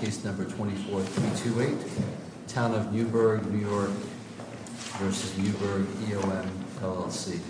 Case number 24-328 Town of Newburgh, New York v. Newburgh EOM LLC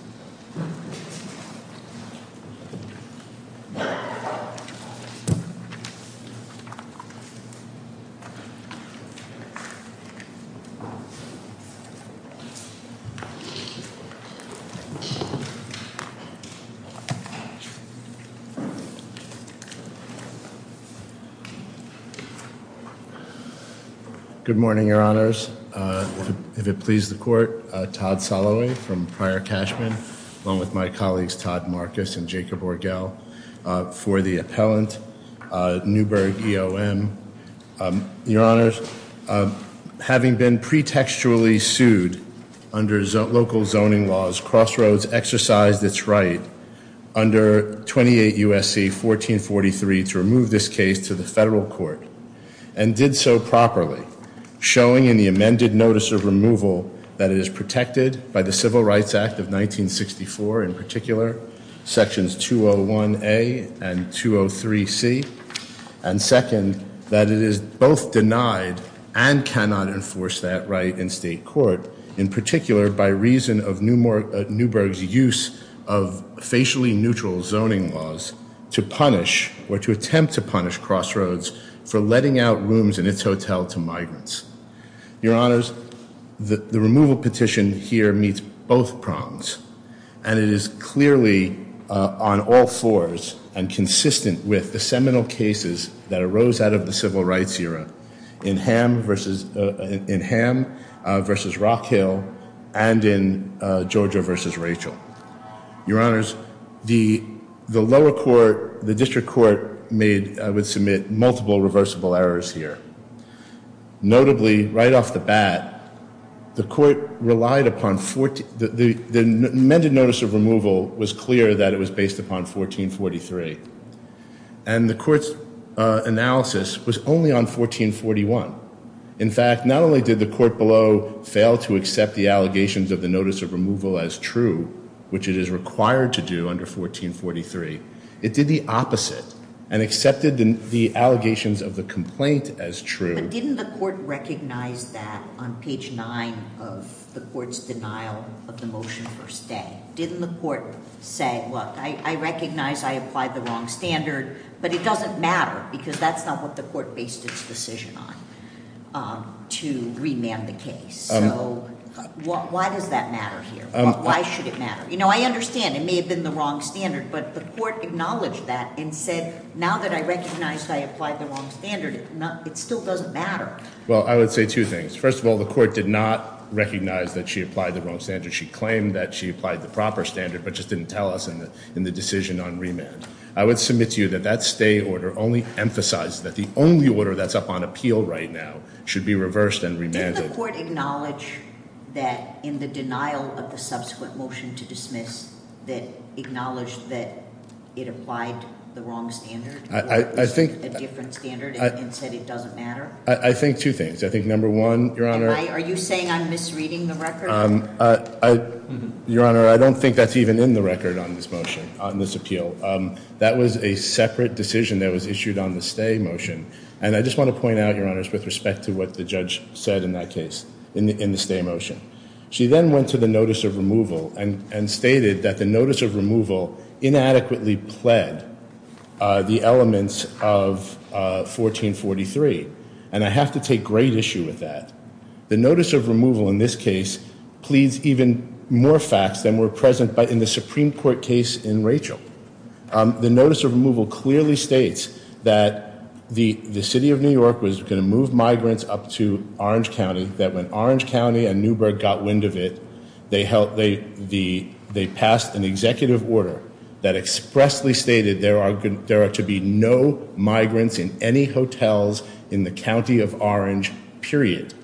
Good morning, your honors. If it pleases the court, Todd Soloway from Pryor-Cashman, along with my colleagues Todd Marcus and Jacob Orgel for the appellant, Newburgh EOM. Your honors, having been pretextually sued under local zoning laws, Crossroads exercised its right under 28 U.S.C. 1443 to remove this case to the federal court and did so properly, showing in the amended notice of removal that it is protected by the Civil Rights Act of 1964 in particular, sections 201A and 203C, and second, that it is both denied and cannot enforce that right in state court, in particular by reason of Newburgh's use of facially neutral zoning laws to punish or to attempt to punish Crossroads for letting out rooms in its hotel to migrants. Your honors, the removal petition here meets both prongs, and it is clearly on all fours and consistent with the seminal cases that arose out of the Civil Rights era in Ham v. Rockhill and in Georgia v. Rachel. Your honors, the lower court, the district court made, would submit multiple reversible errors here. Notably, right off the bat, the court relied upon, the amended notice of removal was clear that it was based upon 1443, and the court's analysis was only on 1441. In fact, not only did the court below fail to accept the allegations of the notice of removal as true, which it is required to do under 1443, it did the opposite, and accepted the allegations of the complaint as true. But didn't the court recognize that on page 9 of the court's denial of the motion first day? Didn't the court say, look, I recognize I applied the wrong standard, but it doesn't matter, because that's not what the court based its decision on, to remand the case. So why does that matter here? Why should it matter? You know, I understand it may have been the wrong standard, but the court acknowledged that and said, now that I recognize I applied the wrong standard, it still doesn't matter. Well, I would say two things. First of all, the court did not recognize that she applied the wrong standard. She claimed that she applied the proper standard, but just didn't tell us in the decision on remand. I would submit to you that that stay order only emphasizes that the only order that's up on appeal right now should be reversed and remanded. Didn't the court acknowledge that in the denial of the subsequent motion to dismiss, that acknowledged that it applied the wrong standard or a different standard and said it doesn't matter? I think two things. I think number one, Your Honor. Are you saying I'm misreading the record? Your Honor, I don't think that's even in the record on this motion, on this appeal. That was a separate decision that was issued on the stay motion. And I just want to point out, Your Honor, with respect to what the judge said in that case, in the stay motion. She then went to the notice of removal and stated that the notice of removal inadequately pled the elements of 1443. And I have to take great issue with that. The notice of removal in this case pleads even more facts than were present in the Supreme Court case in Rachel. The notice of removal clearly states that the city of New York was going to move migrants up to Orange County. That when Orange County and Newburgh got wind of it, they passed an executive order that expressly stated there are to be no migrants in any hotels in the county of Orange, period.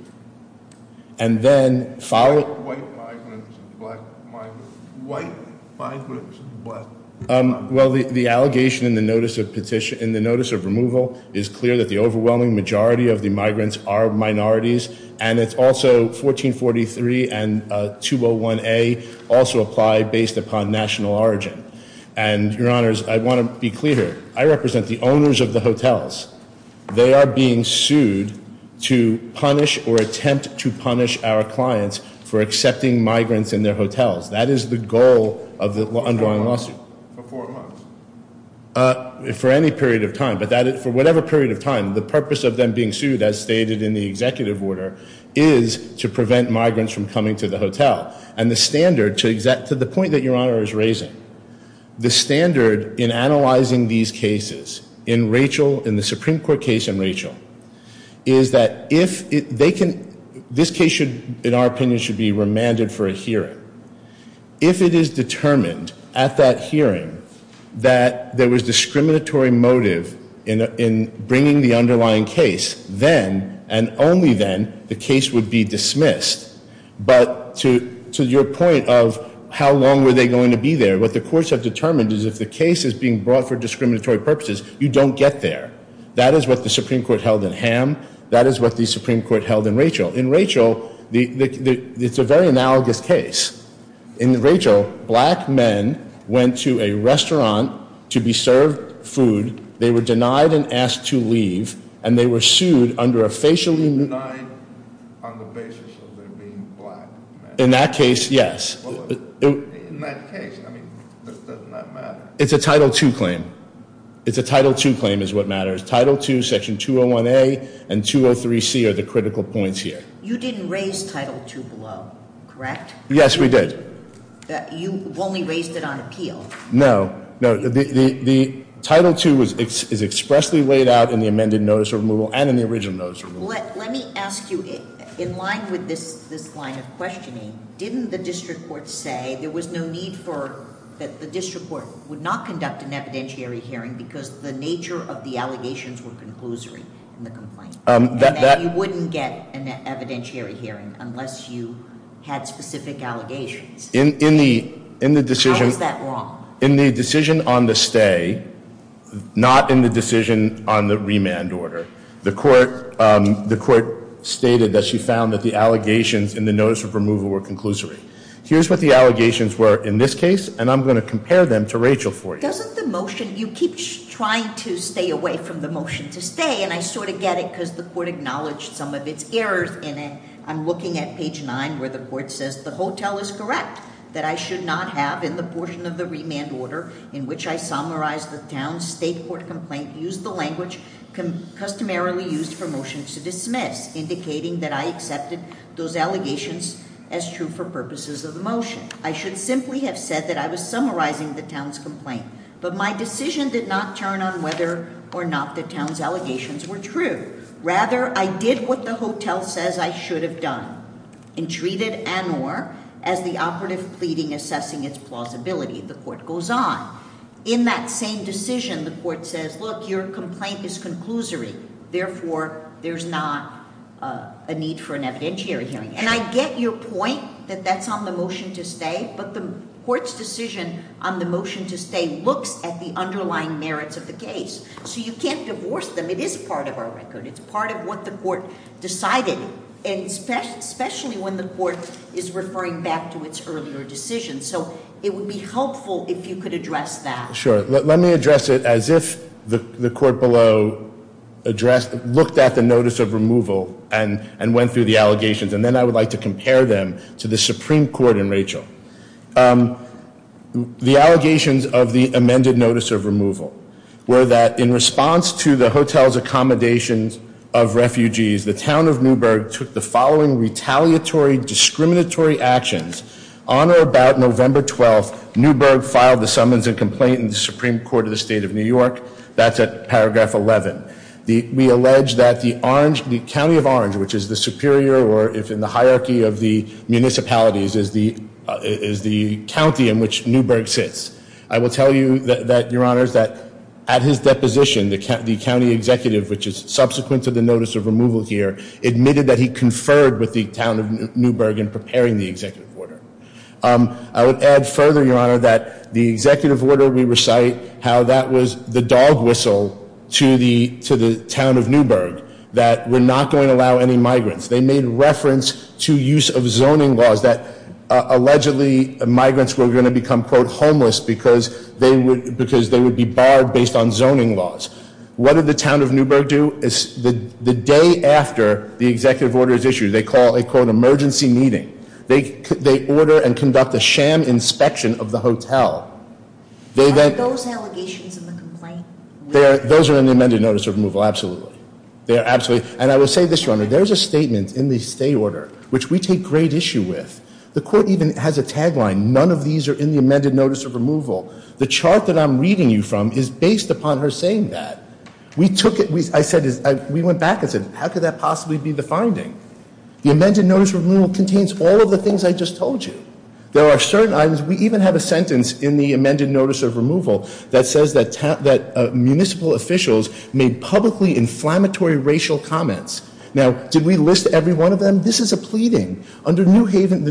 And then followed- White migrants and black migrants. White migrants and black migrants. Well, the allegation in the notice of petition, in the notice of removal is clear that the overwhelming majority of the migrants are minorities. And it's also 1443 and 201A also apply based upon national origin. And, Your Honors, I want to be clear here. I represent the owners of the hotels. They are being sued to punish or attempt to punish our clients for accepting migrants in their hotels. That is the goal of the underlying lawsuit. For how long? For four months? For any period of time. But for whatever period of time, the purpose of them being sued, as stated in the executive order, is to prevent migrants from coming to the hotel. And the standard, to the point that Your Honor is raising, the standard in analyzing these cases in Rachel, in the Supreme Court case in Rachel, is that if they can- this case should, in our opinion, should be remanded for a hearing. If it is determined at that hearing that there was discriminatory motive in bringing the underlying case, then and only then the case would be dismissed. But to your point of how long were they going to be there, what the courts have determined is if the case is being brought for discriminatory purposes, you don't get there. That is what the Supreme Court held in Ham. That is what the Supreme Court held in Rachel. In Rachel, it's a very analogous case. In Rachel, black men went to a restaurant to be served food. They were denied and asked to leave. And they were sued under a facially- Denied on the basis of them being black men. In that case, yes. In that case, I mean, doesn't that matter? It's a Title II claim. It's a Title II claim is what matters. Title II, Section 201A, and 203C are the critical points here. You didn't raise Title II below, correct? Yes, we did. You only raised it on appeal. No, no. The Title II is expressly laid out in the amended notice of removal and in the original notice of removal. Let me ask you, in line with this line of questioning, didn't the district court say there was no need for- that the district court would not conduct an evidentiary hearing because the nature of the allegations were conclusory in the complaint? And that you wouldn't get an evidentiary hearing unless you had specific allegations. In the decision- Is that wrong? In the decision on the stay, not in the decision on the remand order, the court stated that she found that the allegations in the notice of removal were conclusory. Here's what the allegations were in this case, and I'm going to compare them to Rachel for you. Doesn't the motion- you keep trying to stay away from the motion to stay, and I sort of get it because the court acknowledged some of its errors in it. I'm looking at page nine where the court says the hotel is correct, that I should not have in the portion of the remand order in which I summarized the town's state court complaint, used the language customarily used for motions to dismiss, indicating that I accepted those allegations as true for purposes of the motion. I should simply have said that I was summarizing the town's complaint, but my decision did not turn on whether or not the town's allegations were true. Rather, I did what the hotel says I should have done, and treated an or as the operative pleading assessing its plausibility. The court goes on. In that same decision, the court says, look, your complaint is conclusory. Therefore, there's not a need for an evidentiary hearing. And I get your point that that's on the motion to stay, but the court's decision on the motion to stay looks at the underlying merits of the case. So you can't divorce them. It is part of our record. It's part of what the court decided, especially when the court is referring back to its earlier decision. So it would be helpful if you could address that. Sure. Let me address it as if the court below looked at the notice of removal and went through the allegations, and then I would like to compare them to the Supreme Court in Rachel. The allegations of the amended notice of removal were that in response to the hotel's accommodations of refugees, the town of Newburgh took the following retaliatory discriminatory actions. On or about November 12th, Newburgh filed the summons and complaint in the Supreme Court of the State of New York. That's at paragraph 11. We allege that the county of Orange, which is the superior, or if in the hierarchy of the municipalities, is the county in which Newburgh sits. I will tell you, Your Honors, that at his deposition, the county executive, which is subsequent to the notice of removal here, admitted that he conferred with the town of Newburgh in preparing the executive order. I would add further, Your Honor, that the executive order, we recite how that was the dog whistle to the town of Newburgh, that we're not going to allow any migrants. They made reference to use of zoning laws that allegedly migrants were going to become, quote, homeless because they would be barred based on zoning laws. What did the town of Newburgh do? The day after the executive order is issued, they call a, quote, emergency meeting. They order and conduct a sham inspection of the hotel. Why are those allegations in the complaint? Those are in the amended notice of removal, absolutely. They are absolutely. And I will say this, Your Honor. There is a statement in the state order, which we take great issue with. The court even has a tagline, none of these are in the amended notice of removal. The chart that I'm reading you from is based upon her saying that. We took it, I said, we went back and said, how could that possibly be the finding? The amended notice of removal contains all of the things I just told you. There are certain items, we even have a sentence in the amended notice of removal that says that municipal officials made publicly inflammatory racial comments. Now, did we list every one of them? This is a pleading. Under the New Haven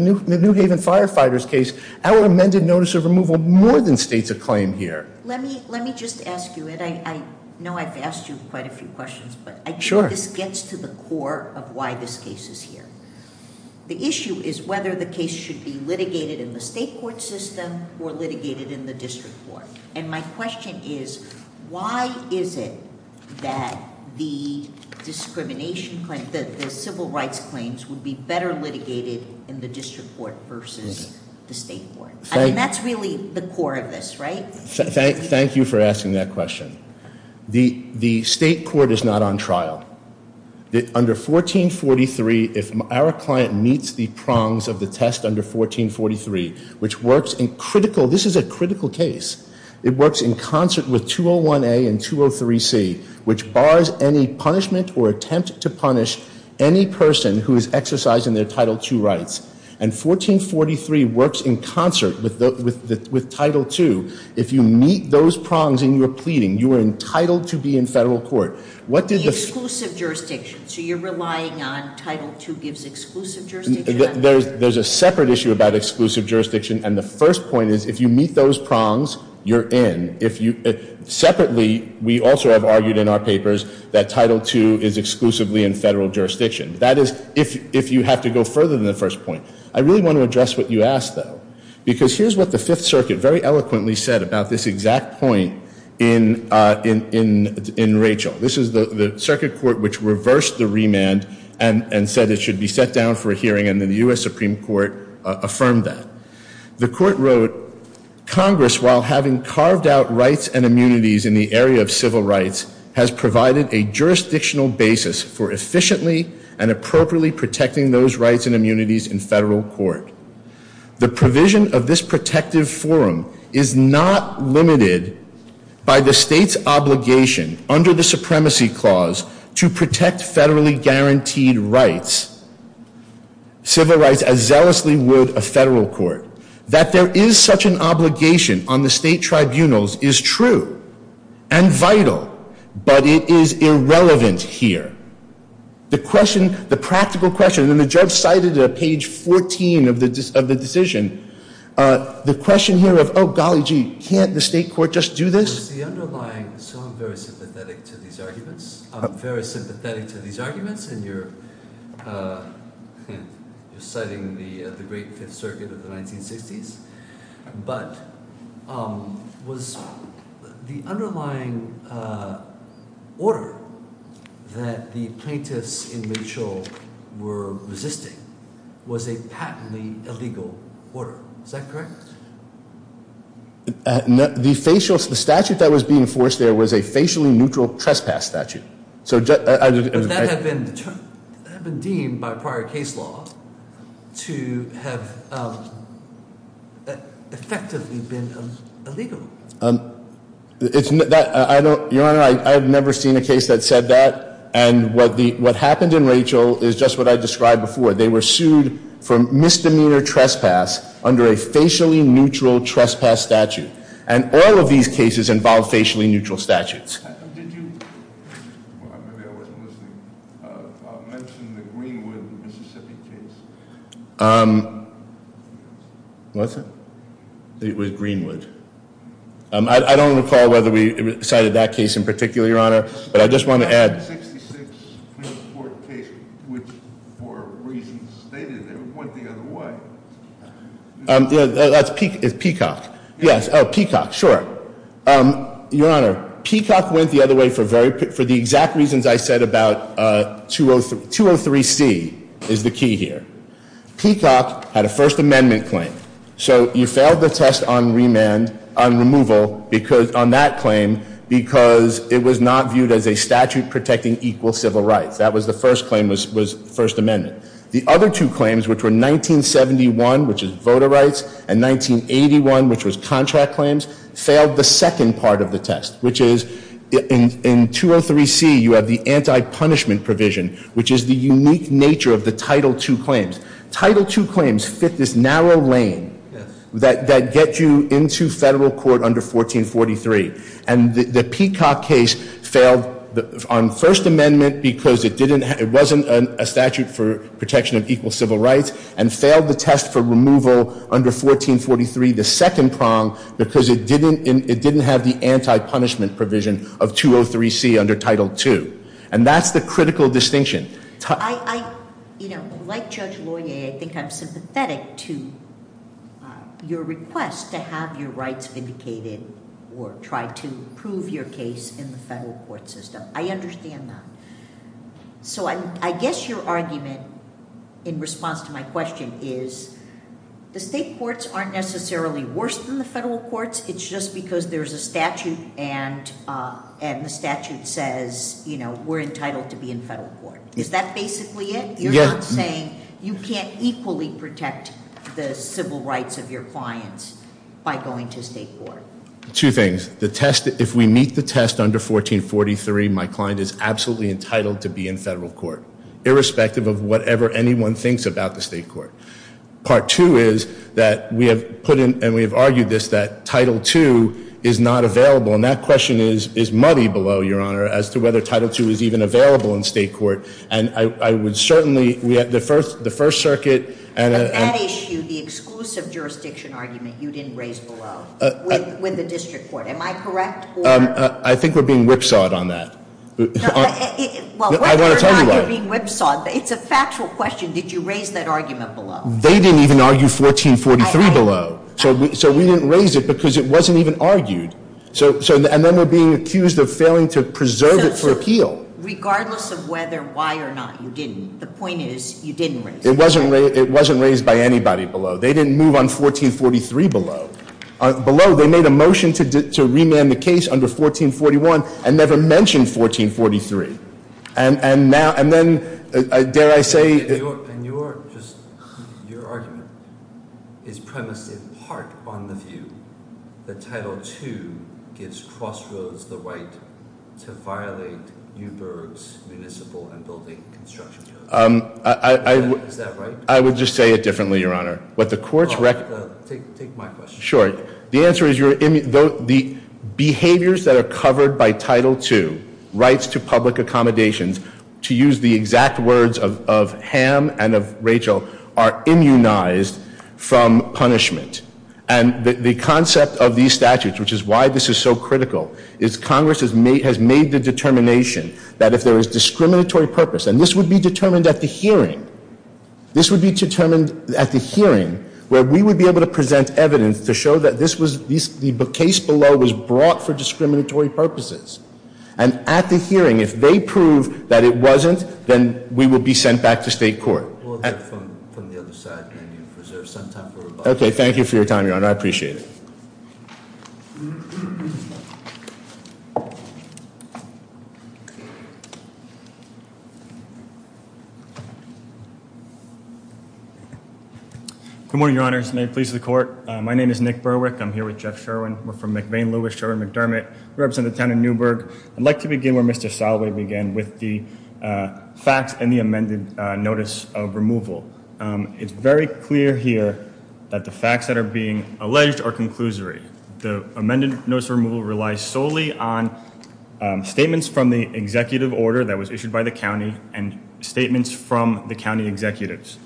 Firefighters case, our amended notice of removal more than states a claim here. Let me just ask you, and I know I've asked you quite a few questions, but I think this gets to the core of why this case is here. The issue is whether the case should be litigated in the state court system or litigated in the district court. And my question is, why is it that the civil rights claims would be better litigated in the district court versus the state court? I mean, that's really the core of this, right? Thank you for asking that question. The state court is not on trial. Under 1443, if our client meets the prongs of the test under 1443, which works in critical, this is a critical case. It works in concert with 201A and 203C, which bars any punishment or attempt to punish any person who is exercising their Title II rights. And 1443 works in concert with Title II. If you meet those prongs in your pleading, you are entitled to be in federal court. The exclusive jurisdiction, so you're relying on Title II gives exclusive jurisdiction? There's a separate issue about exclusive jurisdiction, and the first point is if you meet those prongs, you're in. Separately, we also have argued in our papers that Title II is exclusively in federal jurisdiction. That is if you have to go further than the first point. I really want to address what you asked, though, because here's what the Fifth Circuit very eloquently said about this exact point in Rachel. This is the circuit court which reversed the remand and said it should be set down for a hearing, and then the U.S. Supreme Court affirmed that. The court wrote, Congress, while having carved out rights and immunities in the area of civil rights, has provided a jurisdictional basis for efficiently and appropriately protecting those rights and immunities in federal court. The provision of this protective forum is not limited by the state's obligation under the supremacy clause to protect federally guaranteed rights, civil rights as zealously would a federal court. That there is such an obligation on the state tribunals is true and vital, but it is irrelevant here. The question, the practical question, and the judge cited at page 14 of the decision, the question here of, oh, golly gee, can't the state court just do this? So I'm very sympathetic to these arguments. I'm very sympathetic to these arguments, and you're citing the great Fifth Circuit of the 1960s. But was the underlying order that the plaintiffs in Rachel were resisting was a patently illegal order. Is that correct? The statute that was being enforced there was a facially neutral trespass statute. But that had been deemed by prior case law to have effectively been illegal. Your Honor, I have never seen a case that said that, and what happened in Rachel is just what I described before. They were sued for misdemeanor trespass under a facially neutral trespass statute. And all of these cases involve facially neutral statutes. Did you, maybe I wasn't listening, mention the Greenwood, Mississippi case? Was it? It was Greenwood. I don't recall whether we cited that case in particular, Your Honor, but I just want to add- For reasons stated, they went the other way. That's Peacock. Yes, Peacock, sure. Your Honor, Peacock went the other way for the exact reasons I said about 203C is the key here. Peacock had a First Amendment claim. So you failed the test on removal on that claim because it was not viewed as a statute protecting equal civil rights. That was the first claim was First Amendment. The other two claims, which were 1971, which is voter rights, and 1981, which was contract claims, failed the second part of the test, which is in 203C, you have the anti-punishment provision, which is the unique nature of the Title II claims. Title II claims fit this narrow lane that get you into federal court under 1443. And the Peacock case failed on First Amendment because it wasn't a statute for protection of equal civil rights, and failed the test for removal under 1443, the second prong, because it didn't have the anti-punishment provision of 203C under Title II. And that's the critical distinction. Like Judge Loyer, I think I'm sympathetic to your request to have your rights vindicated or try to prove your case in the federal court system. I understand that. So I guess your argument in response to my question is the state courts aren't necessarily worse than the federal courts. It's just because there's a statute and the statute says we're entitled to be in federal court. Is that basically it? You're not saying you can't equally protect the civil rights of your clients by going to state court? Two things. If we meet the test under 1443, my client is absolutely entitled to be in federal court, irrespective of whatever anyone thinks about the state court. Part two is that we have put in, and we have argued this, that Title II is not available. And that question is muddy below, Your Honor, as to whether Title II is even available in state court. And I would certainly, the First Circuit- On that issue, the exclusive jurisdiction argument you didn't raise below with the district court, am I correct? I think we're being whipsawed on that. I want to tell you why. You're being whipsawed. It's a factual question. Did you raise that argument below? They didn't even argue 1443 below. So we didn't raise it because it wasn't even argued. And then we're being accused of failing to preserve it for appeal. Regardless of whether, why or not you didn't, the point is you didn't raise it. It wasn't raised by anybody below. They didn't move on 1443 below. Below, they made a motion to remand the case under 1441 and never mentioned 1443. And then, dare I say- And your argument is premised in part on the view that Title II gives Crossroads the right to violate Newburgh's municipal and building construction code. Is that right? I would just say it differently, Your Honor. What the courts- Take my question. Sure. The answer is the behaviors that are covered by Title II, rights to public accommodations, to use the exact words of Ham and of Rachel, are immunized from punishment. And the concept of these statutes, which is why this is so critical, is Congress has made the determination that if there is discriminatory purpose- This would be determined at the hearing. This would be determined at the hearing, where we would be able to present evidence to show that the case below was brought for discriminatory purposes. And at the hearing, if they prove that it wasn't, then we would be sent back to state court. We'll have it from the other side, and then you preserve some time for rebuttal. Okay, thank you for your time, Your Honor. I appreciate it. Good morning, Your Honor. May it please the court. My name is Nick Berwick. I'm here with Jeff Sherwin. We're from McVean-Lewis, Sherwin-McDermott. We represent the town of Newburgh. I'd like to begin where Mr. Soloway began, with the facts and the amended notice of removal. It's very clear here that the facts that are being alleged are conclusory. The amended notice of removal relies solely on statements from the executive order that was issued by the county, and statements from the county executives.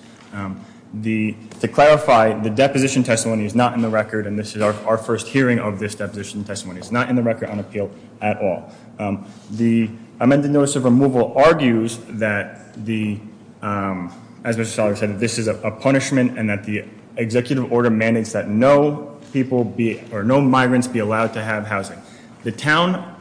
To clarify, the deposition testimony is not in the record, and this is our first hearing of this deposition testimony. It's not in the record on appeal at all. The amended notice of removal argues that, as Mr. Soloway said, this is a punishment, and that the executive order mandates that no migrants be allowed to have housing. The town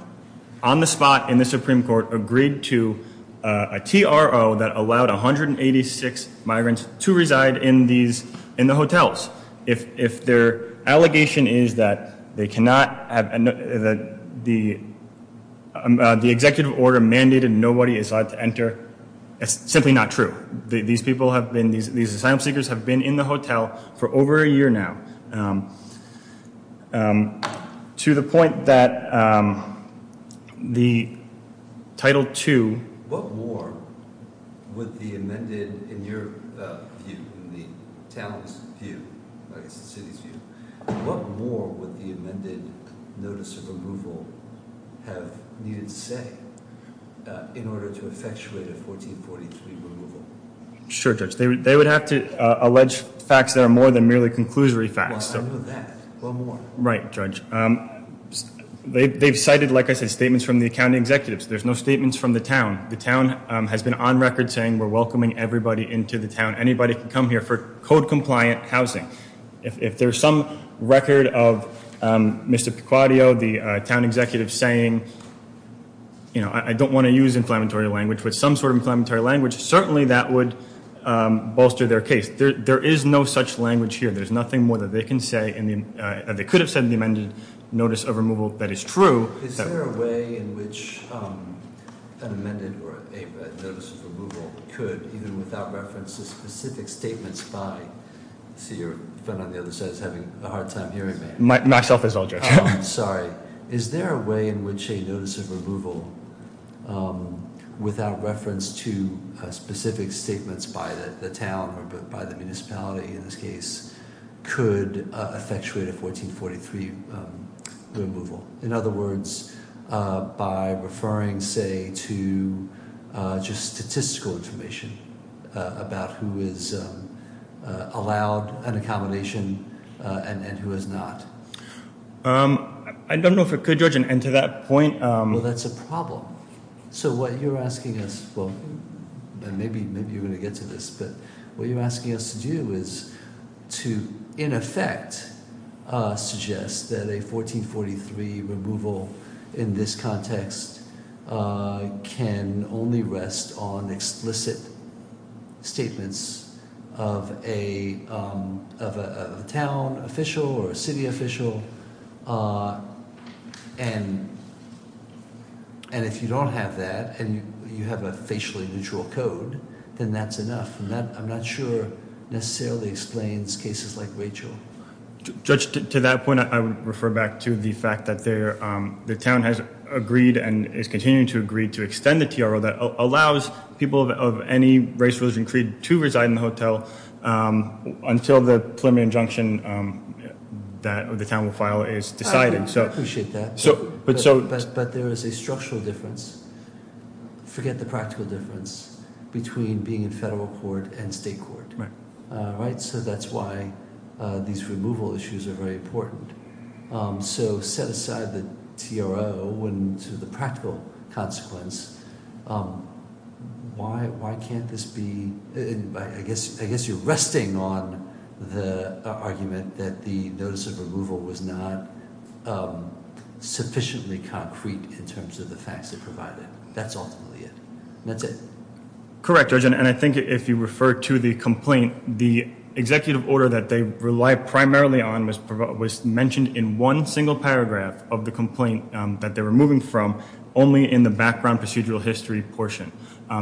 on the spot in the Supreme Court agreed to a TRO that allowed 186 migrants to reside in the hotels. If their allegation is that the executive order mandated nobody is allowed to enter, it's simply not true. These asylum seekers have been in the hotel for over a year now, to the point that the Title II. What more would the amended, in your view, in the town's view, I guess the city's view, what more would the amended notice of removal have needed to say in order to effectuate a 1443 removal? Sure, Judge. They would have to allege facts that are more than merely conclusory facts. Well, I know that. What more? Right, Judge. They've cited, like I said, statements from the county executives. There's no statements from the town. The town has been on record saying we're welcoming everybody into the town. Anybody can come here for code-compliant housing. If there's some record of Mr. Pequodio, the town executive, saying, you know, I don't want to use inflammatory language, with some sort of inflammatory language, certainly that would bolster their case. There is no such language here. There's nothing more that they can say, and they could have said in the amended notice of removal, that is true. Is there a way in which an amended notice of removal could, even without reference to specific statements by— I see your friend on the other side is having a hard time hearing me. Myself as well, Judge. Sorry. Is there a way in which a notice of removal, without reference to specific statements by the town or by the municipality in this case, could effectuate a 1443 removal? In other words, by referring, say, to just statistical information about who is allowed an accommodation and who is not. I don't know if it could, Judge, and to that point— Well, that's a problem. So what you're asking us—well, maybe you're going to get to this, but what you're asking us to do is to, in effect, suggest that a 1443 removal in this context can only rest on explicit statements of a town official or a city official. And if you don't have that, and you have a facially neutral code, then that's enough. And that, I'm not sure, necessarily explains cases like Rachel. Judge, to that point, I would refer back to the fact that the town has agreed and is continuing to agree to extend the TRO that allows people of any race, religion, creed to reside in the hotel until the preliminary injunction that the town will file is decided. I appreciate that. But there is a structural difference—forget the practical difference—between being in federal court and state court. Right. So that's why these removal issues are very important. So set aside the TRO and the practical consequence, why can't this be—I guess you're resting on the argument that the notice of removal was not sufficiently concrete in terms of the facts it provided. That's ultimately it. That's it. Correct, Judge. And I think if you refer to the complaint, the executive order that they rely primarily on was mentioned in one single paragraph of the complaint that they were moving from, only in the background procedural history portion.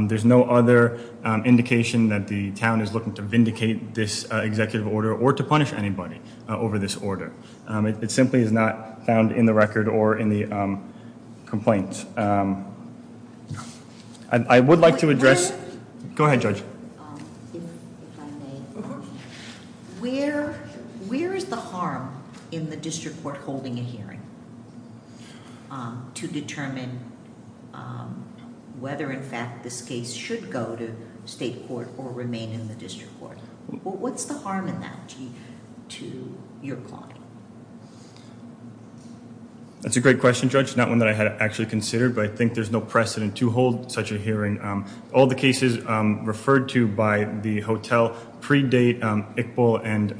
There's no other indication that the town is looking to vindicate this executive order or to punish anybody over this order. It simply is not found in the record or in the complaint. I would like to address—go ahead, Judge. Where is the harm in the district court holding a hearing to determine whether, in fact, this case should go to state court or remain in the district court? What's the harm in that to your client? That's a great question, Judge, not one that I had actually considered, but I think there's no precedent to hold such a hearing. All the cases referred to by the hotel predate Iqbal and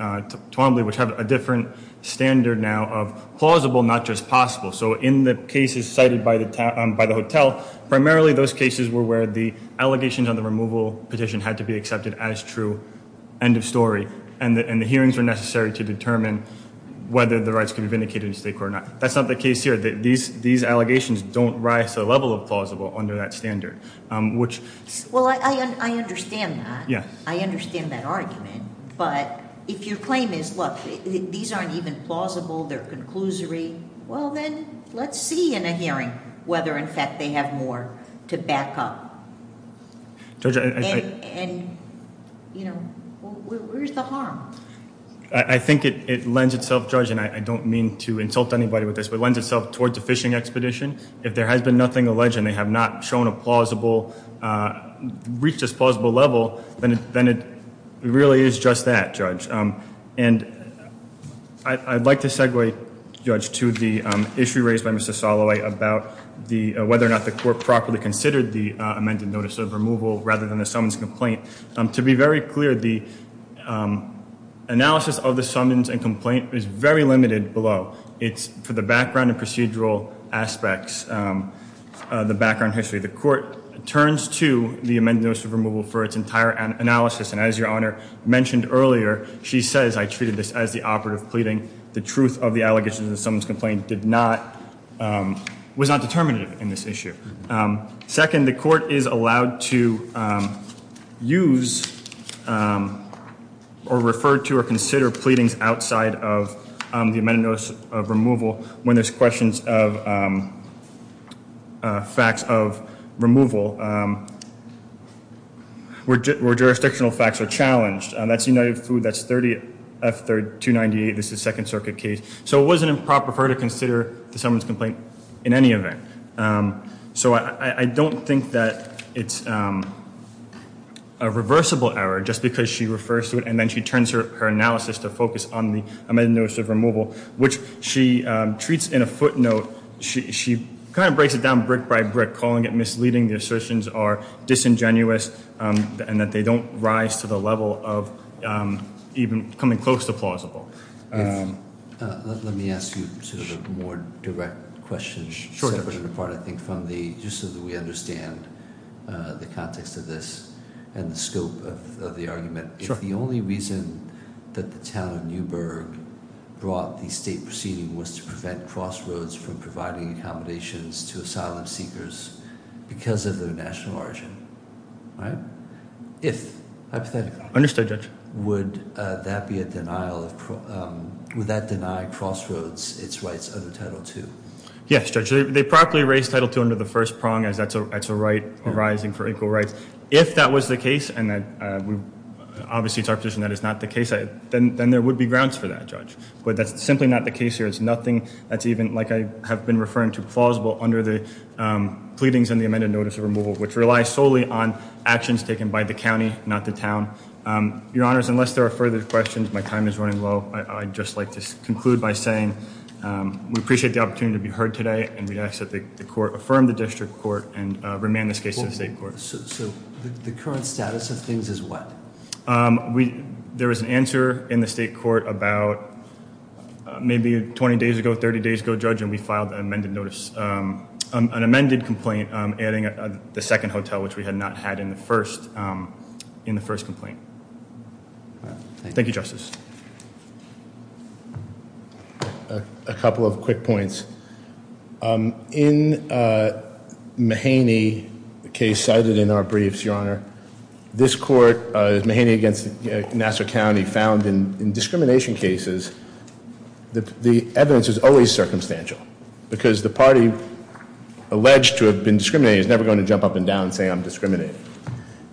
Twombly, which have a different standard now of plausible, not just possible. So in the cases cited by the hotel, primarily those cases were where the allegations on the removal petition had to be accepted as true, end of story, and the hearings were necessary to determine whether the rights could be vindicated in state court or not. That's not the case here. These allegations don't rise to the level of plausible under that standard, which— Well, I understand that. Yeah. I understand that argument. But if your claim is, look, these aren't even plausible, they're conclusory, well, then let's see in a hearing whether, in fact, they have more to back up. Judge, I— And, you know, where's the harm? I think it lends itself, Judge, and I don't mean to insult anybody with this, but it lends itself towards a fishing expedition. If there has been nothing alleged and they have not shown a plausible—reached this plausible level, then it really is just that, Judge. And I'd like to segue, Judge, to the issue raised by Mr. Soloway about whether or not the court properly considered the amended notice of removal rather than the summons complaint. To be very clear, the analysis of the summons and complaint is very limited below. It's for the background and procedural aspects, the background history. The court turns to the amended notice of removal for its entire analysis, and as Your Honor mentioned earlier, she says, I treated this as the operative pleading. The truth of the allegations in the summons complaint did not—was not determinative in this issue. Second, the court is allowed to use or refer to or consider pleadings outside of the amended notice of removal when there's questions of facts of removal where jurisdictional facts are challenged. That's United Food. That's 30 F 298. This is Second Circuit case. So it wasn't improper for her to consider the summons complaint in any event. So I don't think that it's a reversible error just because she refers to it and then she turns her analysis to focus on the amended notice of removal, which she treats in a footnote. She kind of breaks it down brick by brick, calling it misleading. The assertions are disingenuous and that they don't rise to the level of even coming close to plausible. Let me ask you sort of a more direct question. Sure. I think from the—just so that we understand the context of this and the scope of the argument. The only reason that the town of Newburgh brought the state proceeding was to prevent crossroads from providing accommodations to asylum seekers because of their national origin. All right. If—hypothetically. Understood, Judge. Would that be a denial of—would that deny crossroads its rights under Title II? Yes, Judge. They properly raise Title II under the first prong as that's a right arising for equal rights. If that was the case, and obviously it's our position that it's not the case, then there would be grounds for that, Judge. But that's simply not the case here. It's nothing that's even, like I have been referring to, plausible under the pleadings in the amended notice of removal, which relies solely on actions taken by the county, not the town. Your Honors, unless there are further questions, my time is running low. I'd just like to conclude by saying we appreciate the opportunity to be heard today, and we ask that the court affirm the district court and remand this case to the state court. So the current status of things is what? There was an answer in the state court about maybe 20 days ago, 30 days ago, Judge, and we filed an amended notice—an amended complaint adding the second hotel, which we had not had in the first complaint. Thank you, Justice. A couple of quick points. In Mahaney, the case cited in our briefs, Your Honor, this court, Mahaney against Nassau County, found in discrimination cases that the evidence is always circumstantial, because the party alleged to have been discriminating is never going to jump up and down and say I'm discriminating.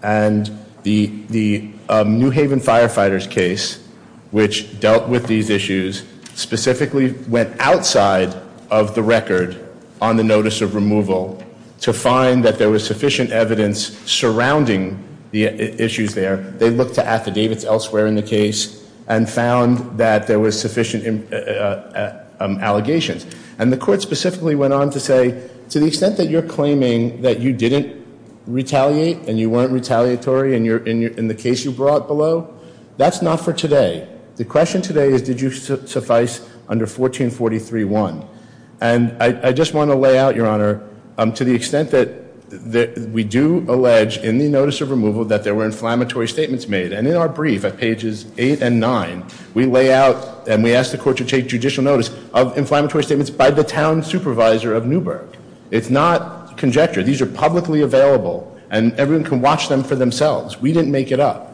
And the New Haven Firefighters case, which dealt with these issues, specifically went outside of the record on the notice of removal to find that there was sufficient evidence surrounding the issues there. They looked to affidavits elsewhere in the case and found that there was sufficient allegations. And the court specifically went on to say to the extent that you're claiming that you didn't retaliate and you weren't retaliatory in the case you brought below, that's not for today. The question today is did you suffice under 1443.1. And I just want to lay out, Your Honor, to the extent that we do allege in the notice of removal that there were inflammatory statements made. And in our brief at pages 8 and 9, we lay out and we ask the court to take judicial notice of inflammatory statements by the town supervisor of Newburgh. It's not conjecture. These are publicly available and everyone can watch them for themselves. We didn't make it up.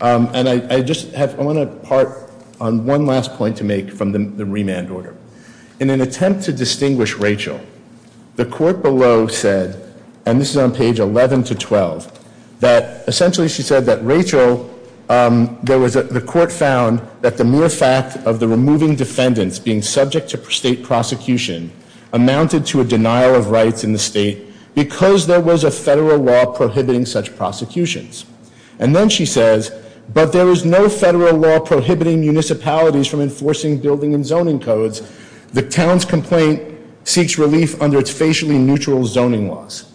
And I just have, I want to part on one last point to make from the remand order. In an attempt to distinguish Rachel, the court below said, and this is on page 11 to 12, that essentially she said that Rachel, the court found that the mere fact of the removing defendants being subject to state prosecution amounted to a denial of rights in the state because there was a federal law prohibiting such prosecutions. And then she says, but there is no federal law prohibiting municipalities from enforcing building and zoning codes. The town's complaint seeks relief under its facially neutral zoning laws.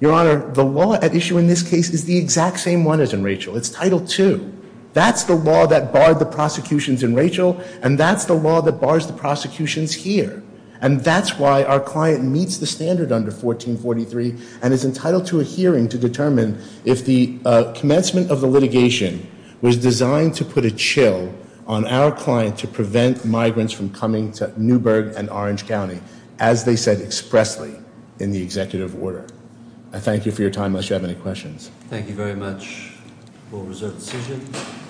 Your Honor, the law at issue in this case is the exact same one as in Rachel. It's Title II. That's the law that barred the prosecutions in Rachel and that's the law that bars the prosecutions here. And that's why our client meets the standard under 1443 and is entitled to a hearing to determine if the commencement of the litigation was designed to put a chill on our client to prevent migrants from coming to Newburgh and Orange County, as they said expressly in the executive order. I thank you for your time unless you have any questions. Thank you very much. We'll reserve the decision.